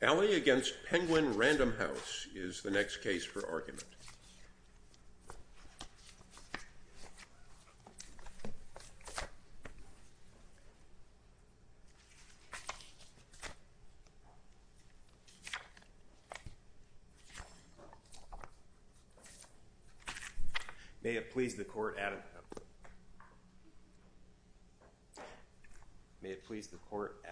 Alley against Penguin Random House is the next case for argument. May it please the court at may it please the court.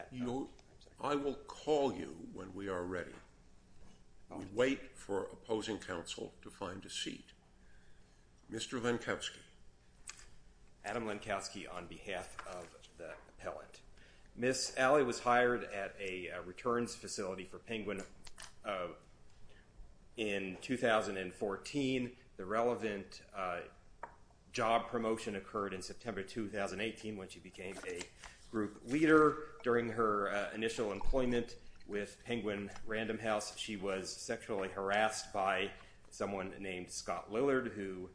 I will call you when we are ready. Wait for opposing counsel to find a seat. Mr. Lenkowski Adam Lenkowski on behalf of the pellet. Miss Alley was hired at a returns facility for Penguin in 2014. The relevant job promotion occurred in September 2018 when she became a group leader during her initial employment with Penguin Random House. She was sexually harassed by someone named Scott Lillard, who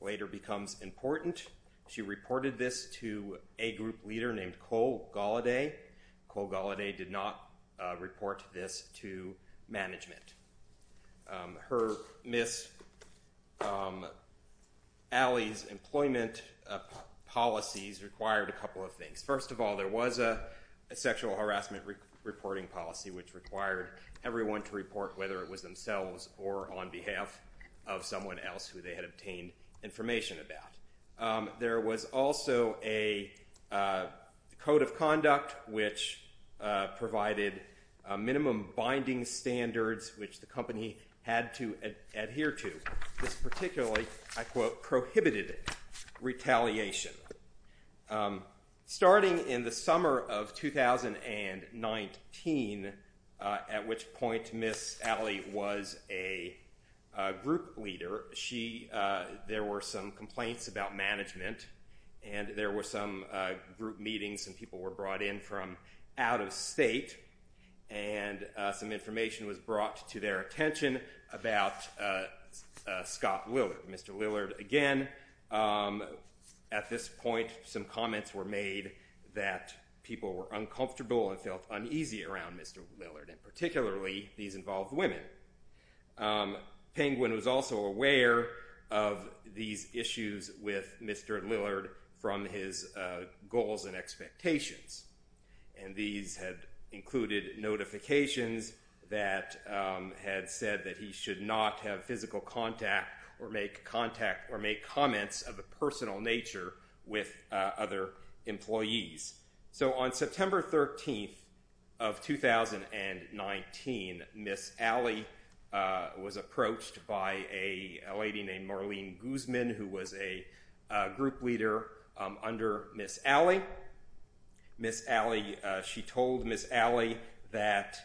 later becomes important. She reported this to a group leader named Cole Galladay. Cole Galladay did not report this to management. Her Miss Alley's employment policies required a couple of things. First of all, there was a sexual harassment reporting policy which required everyone to report whether it was themselves or on behalf of someone else who they had obtained information about. There was also a code of conduct which provided minimum binding standards which the company had to adhere to. This particularly, I quote, prohibited retaliation. Starting in the summer of 2019, at which point Miss Alley was a group leader, there were some complaints about management and there were some group meetings and people were brought in from out of state. Some information was brought to their attention about Scott Lillard. Mr. Lillard, again, at this point, some comments were made that people were uncomfortable and felt uneasy around Mr. Lillard. Particularly, these involved women. Penguin was also aware of these issues with Mr. Lillard from his goals and expectations. These had included notifications that had said that he should not have physical contact or make comments of a personal nature with other employees. On September 13th of 2019, Miss Alley was approached by a lady named Marlene Guzman who was a group leader under Miss Alley. Miss Alley, she told Miss Alley that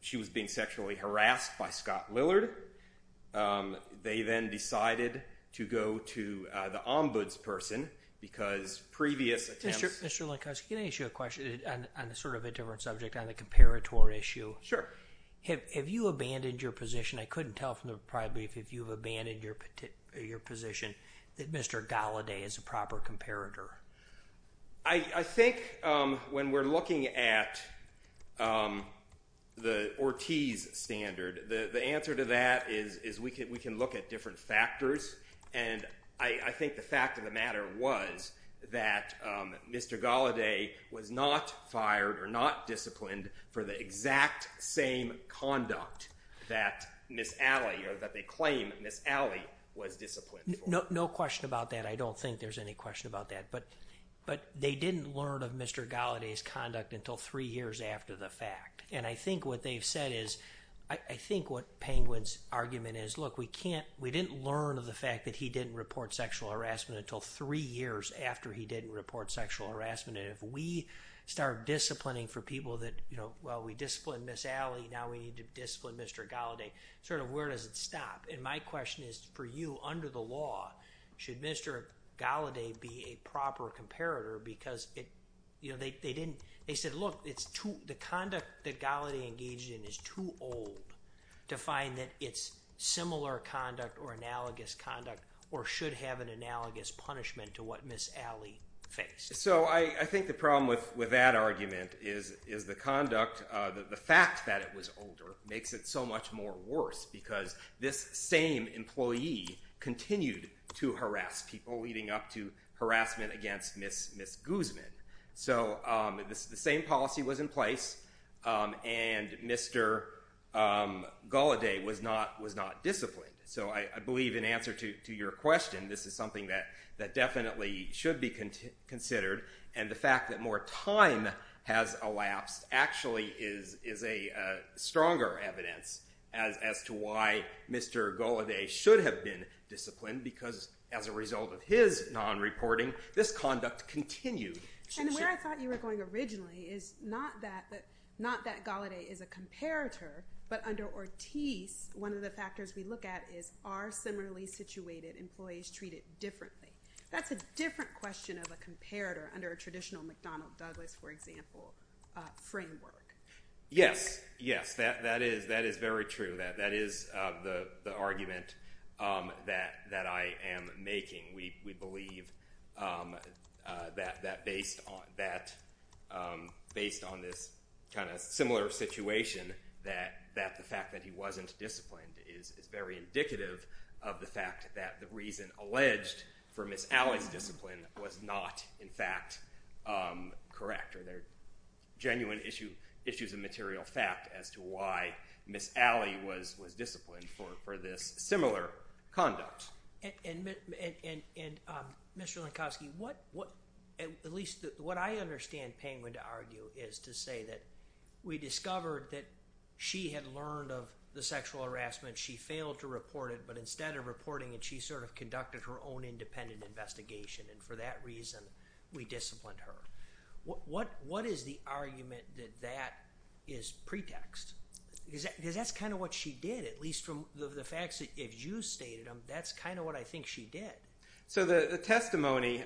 she was being sexually harassed by Scott Lillard. They then decided to go to the ombudsperson because previous attempts— Mr. Linkoski, can I ask you a question on sort of a different subject, on the comparator issue? Sure. Have you abandoned your position? I couldn't tell from the brief if you've abandoned your position that Mr. Galladay is a proper comparator. I think when we're looking at the Ortiz standard, the answer to that is we can look at different factors. I think the fact of the matter was that Mr. Galladay was not fired or not disciplined for the exact same conduct that Miss Alley or that they claim Miss Alley was disciplined for. No question about that. I don't think there's any question about that. But they didn't learn of Mr. Galladay's conduct until three years after the fact. I think what they've said is—I think what Penguin's argument is, look, we didn't learn of the fact that he didn't report sexual harassment until three years after he didn't report sexual harassment. If we start disciplining for people that, well, we disciplined Miss Alley, now we need to discipline Mr. Galladay, sort of where does it stop? My question is for you, under the law, should Mr. Galladay be a proper comparator? They said, look, the conduct that Galladay engaged in is too old to find that it's similar conduct or analogous conduct or should have an analogous punishment to what Miss Alley faced. So I think the problem with that argument is the conduct—the fact that it was older makes it so much more worse because this same employee continued to harass people leading up to harassment against Miss Guzman. So the same policy was in place, and Mr. Galladay was not disciplined. So I believe in answer to your question, this is something that definitely should be considered, and the fact that more time has elapsed actually is a stronger evidence as to why Mr. Galladay should have been disciplined because as a result of his non-reporting, this conduct continued. And where I thought you were going originally is not that Galladay is a comparator, but under Ortiz, one of the factors we look at is are similarly situated employees treated differently? That's a different question of a comparator under a traditional McDonnell Douglas, for example, framework. Yes, yes. That is very true. That is the argument that I am making. We believe that based on this kind of similar situation, that the fact that he wasn't disciplined is very indicative of the fact that the reason alleged for Miss Alley's discipline was not, in fact, correct. There are genuine issues of material fact as to why Miss Alley was disciplined for this similar conduct. And Mr. Lenkovsky, at least what I understand Penguin to argue is to say that we discovered that she had learned of the sexual harassment. She failed to report it, but instead of reporting it, she sort of conducted her own independent investigation, and for that reason, we disciplined her. What is the argument that that is pretext? Because that's kind of what she did, at least from the facts that you stated, that's kind of what I think she did. So the testimony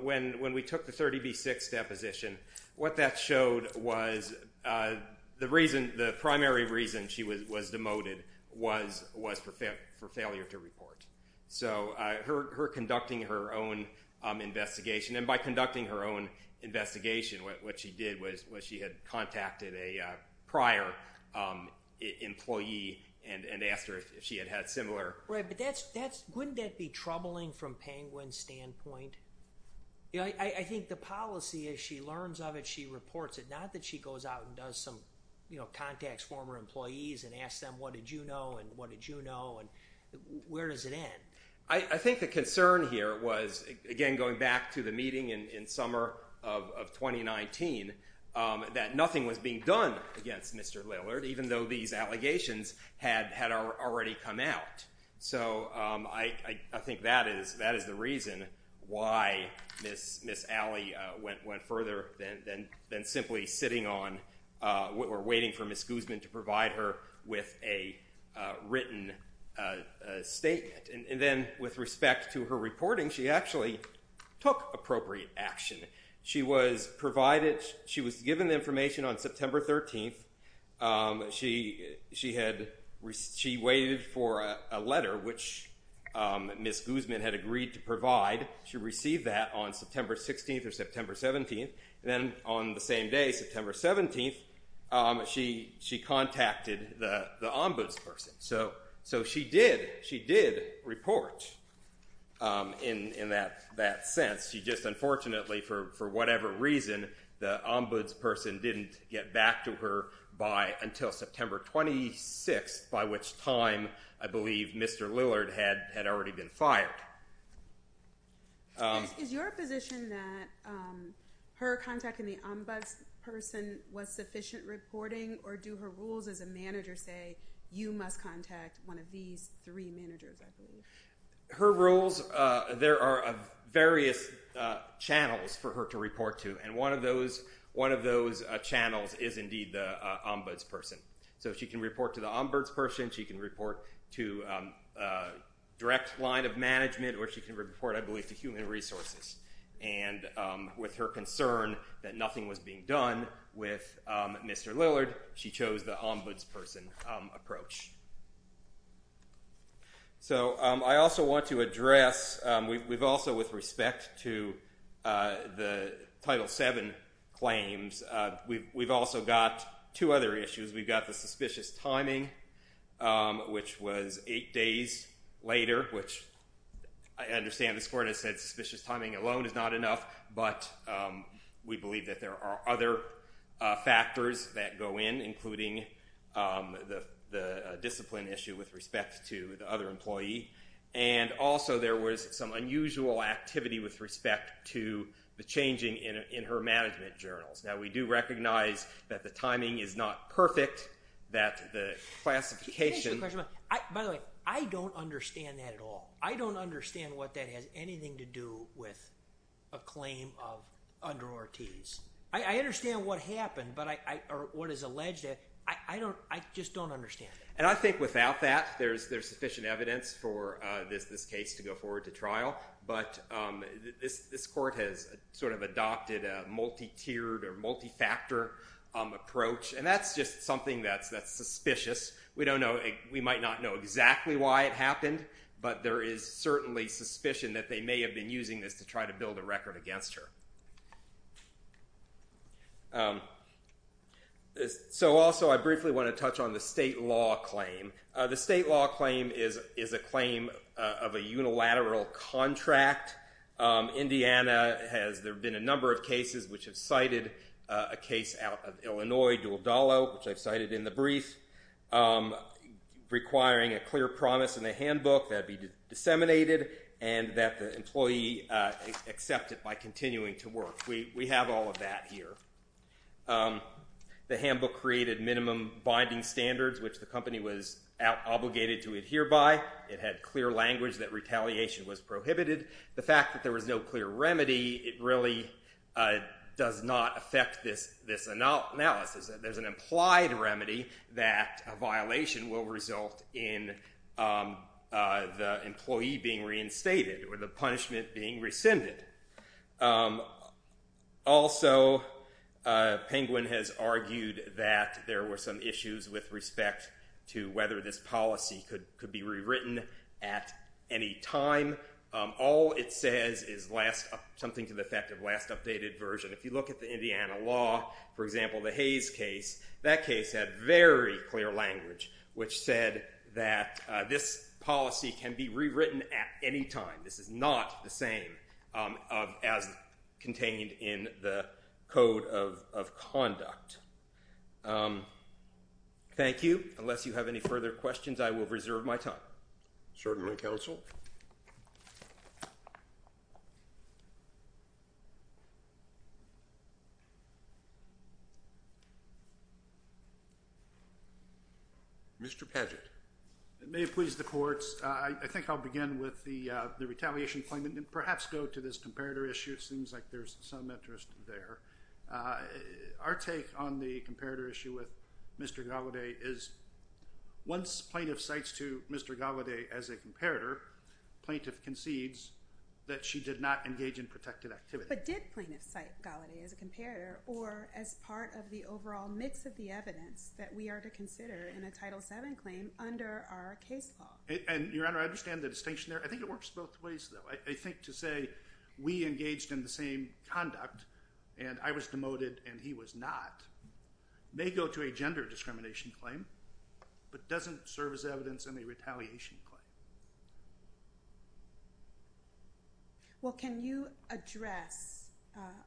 when we took the 30B6 deposition, what that showed was the primary reason she was demoted was for failure to report. So her conducting her own investigation, and by conducting her own investigation, what she did was she had contacted a prior employee and asked her if she had had similar— Right, but wouldn't that be troubling from Penguin's standpoint? I think the policy is she learns of it, she reports it, not that she goes out and does some, you know, contacts former employees and asks them what did you know, and what did you know, and where does it end? I think the concern here was, again, going back to the meeting in summer of 2019, that nothing was being done against Mr. Lillard, even though these allegations had already come out. So I think that is the reason why Ms. Alley went further than simply sitting on or waiting for Ms. Guzman to provide her with a written statement. And then with respect to her reporting, she actually took appropriate action. She was given the information on September 13th. She waited for a letter, which Ms. Guzman had agreed to provide. She received that on September 16th or September 17th, and then on the same day, September 17th, she contacted the ombudsperson. So she did report in that sense. She just unfortunately, for whatever reason, the ombudsperson didn't get back to her until September 26th, by which time I believe Mr. Lillard had already been fired. Is your position that her contacting the ombudsperson was sufficient reporting, or do her rules as a manager say, you must contact one of these three managers, I believe? Her rules, there are various channels for her to report to, and one of those channels is indeed the ombudsperson. So she can report to the ombudsperson, she can report to direct line of management, or she can report, I believe, to human resources. And with her concern that nothing was being done with Mr. Lillard, she chose the ombudsperson approach. So I also want to address, we've also, with respect to the Title VII claims, we've also got two other issues. We've got the suspicious timing, which was eight days later, which I understand this court has said suspicious timing alone is not enough, but we believe that there are other factors that go in, including the discipline issue with respect to the other employee. And also there was some unusual activity with respect to the changing in her management journals. Now we do recognize that the timing is not perfect, that the classification... Can I ask you a question? By the way, I don't understand that at all. I don't understand what that has anything to do with a claim of under Ortiz. I understand what happened, but I, or what is alleged, I don't, I just don't understand. And I think without that, there's sufficient evidence for this case to go forward to trial, but this court has sort of adopted a multi-tiered or multi-factor approach. And that's just something that's suspicious. We don't know, we might not know exactly why it happened, but there is certainly suspicion that they may have been using this to try to build a record against her. So also I briefly want to touch on the state law claim. The state law claim is a claim of a unilateral contract. Indiana has, there have been a number of cases which have cited a case out of Illinois, Dualdalo, which I've cited in the brief, requiring a clear promise in the handbook that it be disseminated and that the employee accept it by continuing to work. We have all of that here. The handbook created minimum binding standards, which the company was obligated to adhere by. It had clear language that retaliation was prohibited. The fact that there was no clear remedy, it really does not affect this analysis. There's an implied remedy that a violation will result in the employee being reinstated or the punishment being rescinded. Also, Penguin has argued that there were some issues with respect to whether this policy could be rewritten at any time. All it says is last, something to the effect of last updated version. If you look at the Indiana law, for example, the Hayes case, that case had very clear language which said that this policy can be rewritten at any time. This is not the same as contained in the Code of Conduct. Thank you. Unless you have any further questions, I will reserve my time. Certainly, counsel. Mr. Padgett. It may have pleased the courts. I think I'll begin with the retaliation claim and perhaps go to this comparator issue. It seems like there's some interest there. Our take on the comparator issue with Mr. Gallaudet is once plaintiff cites to Mr. Gallaudet as a comparator, plaintiff concedes that she did not engage in protected activity. But did plaintiff cite Gallaudet as a comparator or as part of the overall mix of the evidence that we are to consider in a Title VII claim under our case law? Your Honor, I understand the distinction there. I think it works both ways, though. I think to say we engaged in the same conduct and I was demoted and he was not may go to a gender discrimination claim but doesn't serve as evidence in a retaliation claim. Well, can you address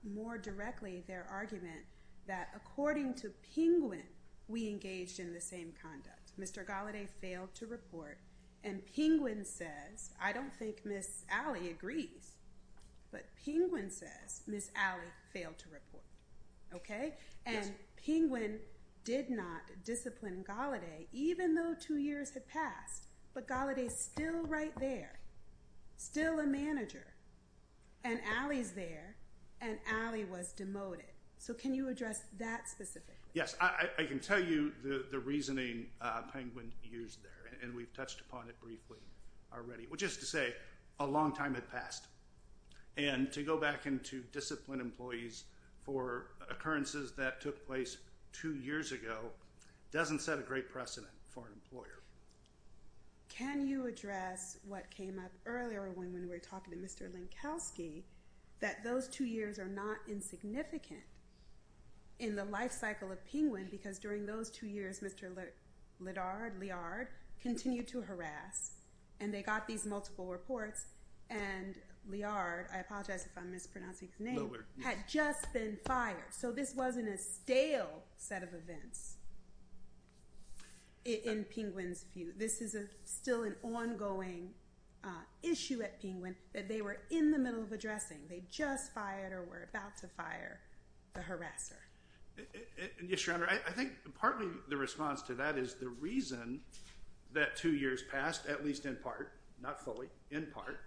more directly their argument that according to Penguin, we engaged in the same conduct? Mr. Gallaudet failed to report and Penguin says, I don't think Ms. Alley agrees, but Penguin says Ms. Alley failed to report. Okay? And Penguin did not discipline Gallaudet even though two years had passed. But Gallaudet is still right there, still a manager. And Alley's there and Alley was demoted. So can you address that specifically? Yes. I can tell you the reasoning Penguin used there, and we've touched upon it briefly already, which is to say a long time had passed. And to go back into disciplined employees for occurrences that took place two years ago doesn't set a great precedent for an employer. Can you address what came up earlier when we were talking to Mr. Linkowski that those two years are not insignificant in the life cycle of Penguin because during those two years, Mr. Lillard continued to harass and they got these multiple reports and Lillard, I apologize if I'm mispronouncing his name, had just been fired. So this wasn't a stale set of events in Penguin's view. This is still an ongoing issue at Penguin that they were in the middle of addressing. They just fired or were about to fire the harasser. Yes, Your Honor. I think partly the response to that is the reason that two years passed, at least in part, not fully, in part,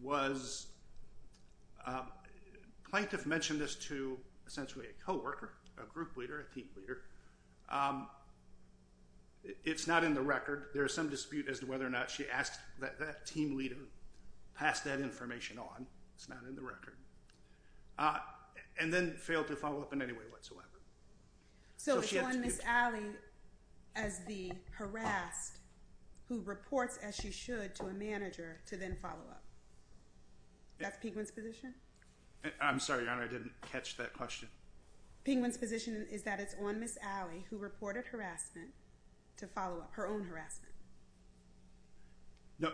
was plaintiff mentioned this to essentially a co-worker, a group leader, a team leader. It's not in the record. There is some dispute as to whether or not she asked that team leader pass that information on. It's not in the record. And then failed to follow up in any way whatsoever. So it's on Ms. Alley as the harassed who reports as she should to a manager to then follow up. That's Penguin's position? I'm sorry, Your Honor. I didn't catch that question. Penguin's position is that it's on Ms. Alley who reported harassment to follow up her own harassment. No,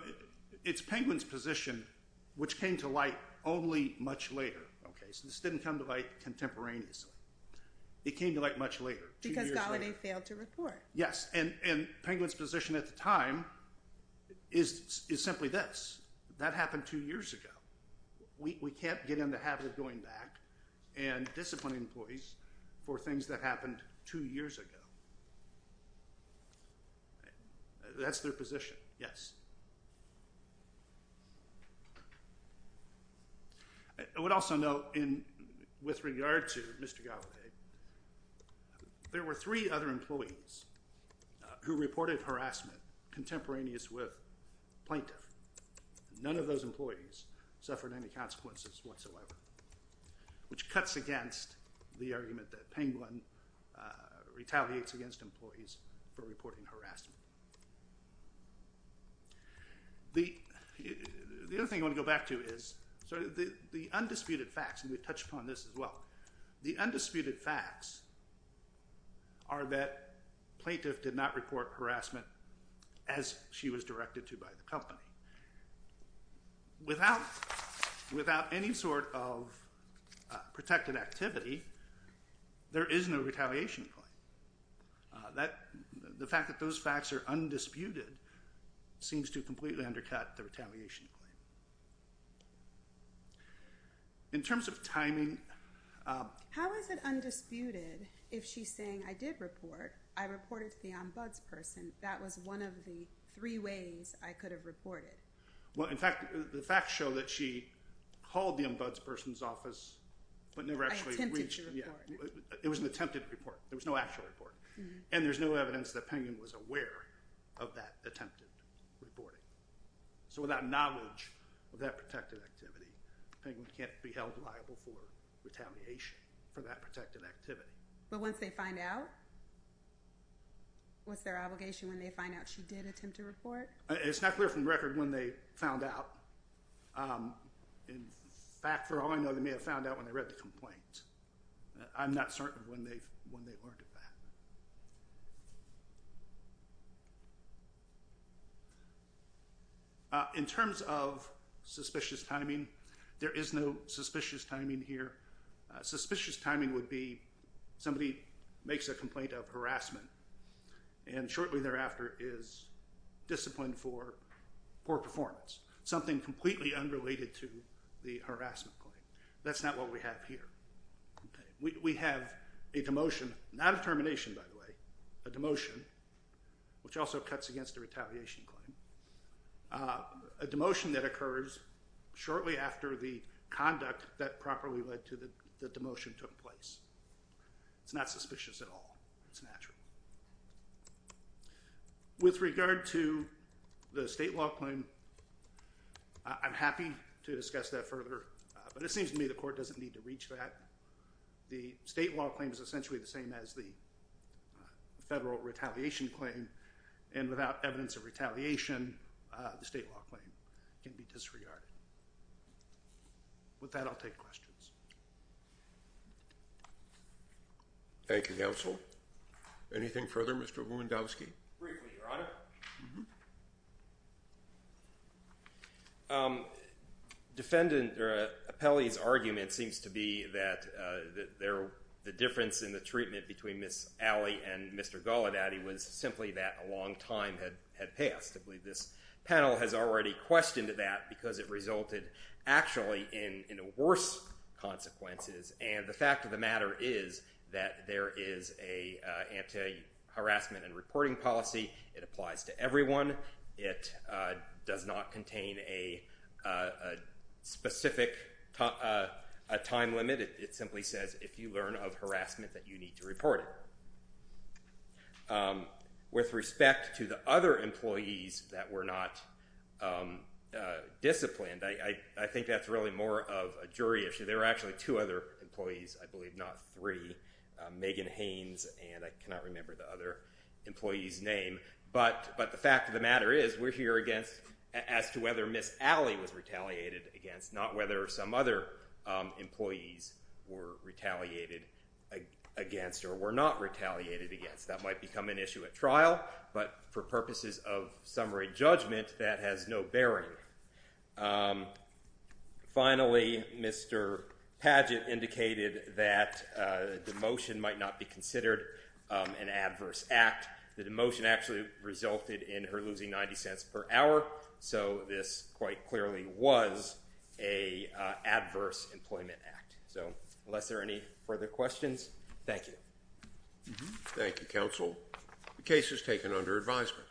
it's Penguin's position, which came to light only much later. Okay, so this didn't come to light contemporaneously. It came to light much later. Because Gallaudet failed to report. Yes, and Penguin's position at the time is simply this. That happened two years ago. We can't get in the habit of going back and disciplining employees for things that happened two years ago. That's their position, yes. I would also note with regard to Mr. Gallaudet, there were three other employees who reported harassment contemporaneous with plaintiff. None of those employees suffered any consequences whatsoever, which cuts against the argument that Penguin retaliates against employees for reporting harassment. The other thing I want to go back to is the undisputed facts, and we touched upon this as well. The undisputed facts are that plaintiff did not report harassment as she was directed to by the company. Without any sort of protected activity, there is no retaliation claim. The fact that those facts are undisputed seems to completely undercut the retaliation claim. In terms of timing— How is it undisputed if she's saying, I did report, I reported to the ombudsperson, that was one of the three ways I could have reported? In fact, the facts show that she called the ombudsperson's office but never actually reached— I attempted to report. It was an attempted report. There was no actual report. And there's no evidence that Penguin was aware of that attempted reporting. So without knowledge of that protected activity, Penguin can't be held liable for retaliation for that protected activity. But once they find out, what's their obligation when they find out she did attempt to report? It's not clear from the record when they found out. In fact, for all I know, they may have found out when they read the complaint. I'm not certain when they learned of that. In terms of suspicious timing, there is no suspicious timing here. Suspicious timing would be somebody makes a complaint of harassment and shortly thereafter is disciplined for poor performance. Something completely unrelated to the harassment claim. That's not what we have here. We have a demotion—not a termination, by the way—a demotion, which also cuts against the retaliation claim. A demotion that occurs shortly after the conduct that properly led to the demotion took place. It's not suspicious at all. It's natural. With regard to the state law claim, I'm happy to discuss that further. But it seems to me the court doesn't need to reach that. The state law claim is essentially the same as the federal retaliation claim. And without evidence of retaliation, the state law claim can be disregarded. With that, I'll take questions. Thank you, Counsel. Anything further, Mr. Lewandowski? Briefly, Your Honor. Defendant Apelli's argument seems to be that the difference in the treatment between Ms. Alley and Mr. Golodaty was simply that a long time had passed. I believe this panel has already questioned that because it resulted actually in worse consequences. And the fact of the matter is that there is an anti-harassment and reporting policy. It applies to everyone. It does not contain a specific time limit. It simply says if you learn of harassment, that you need to report it. With respect to the other employees that were not disciplined, I think that's really more of a jury issue. There were actually two other employees, I believe, not three. Megan Haynes, and I cannot remember the other employee's name. But the fact of the matter is we're here as to whether Ms. Alley was retaliated against, not whether some other employees were retaliated against or were not retaliated against. That might become an issue at trial, but for purposes of summary judgment, that has no bearing. Finally, Mr. Padgett indicated that demotion might not be considered an adverse act. The demotion actually resulted in her losing 90 cents per hour, so this quite clearly was an adverse employment act. So, unless there are any further questions, thank you. Thank you, counsel. The case is taken under advisement.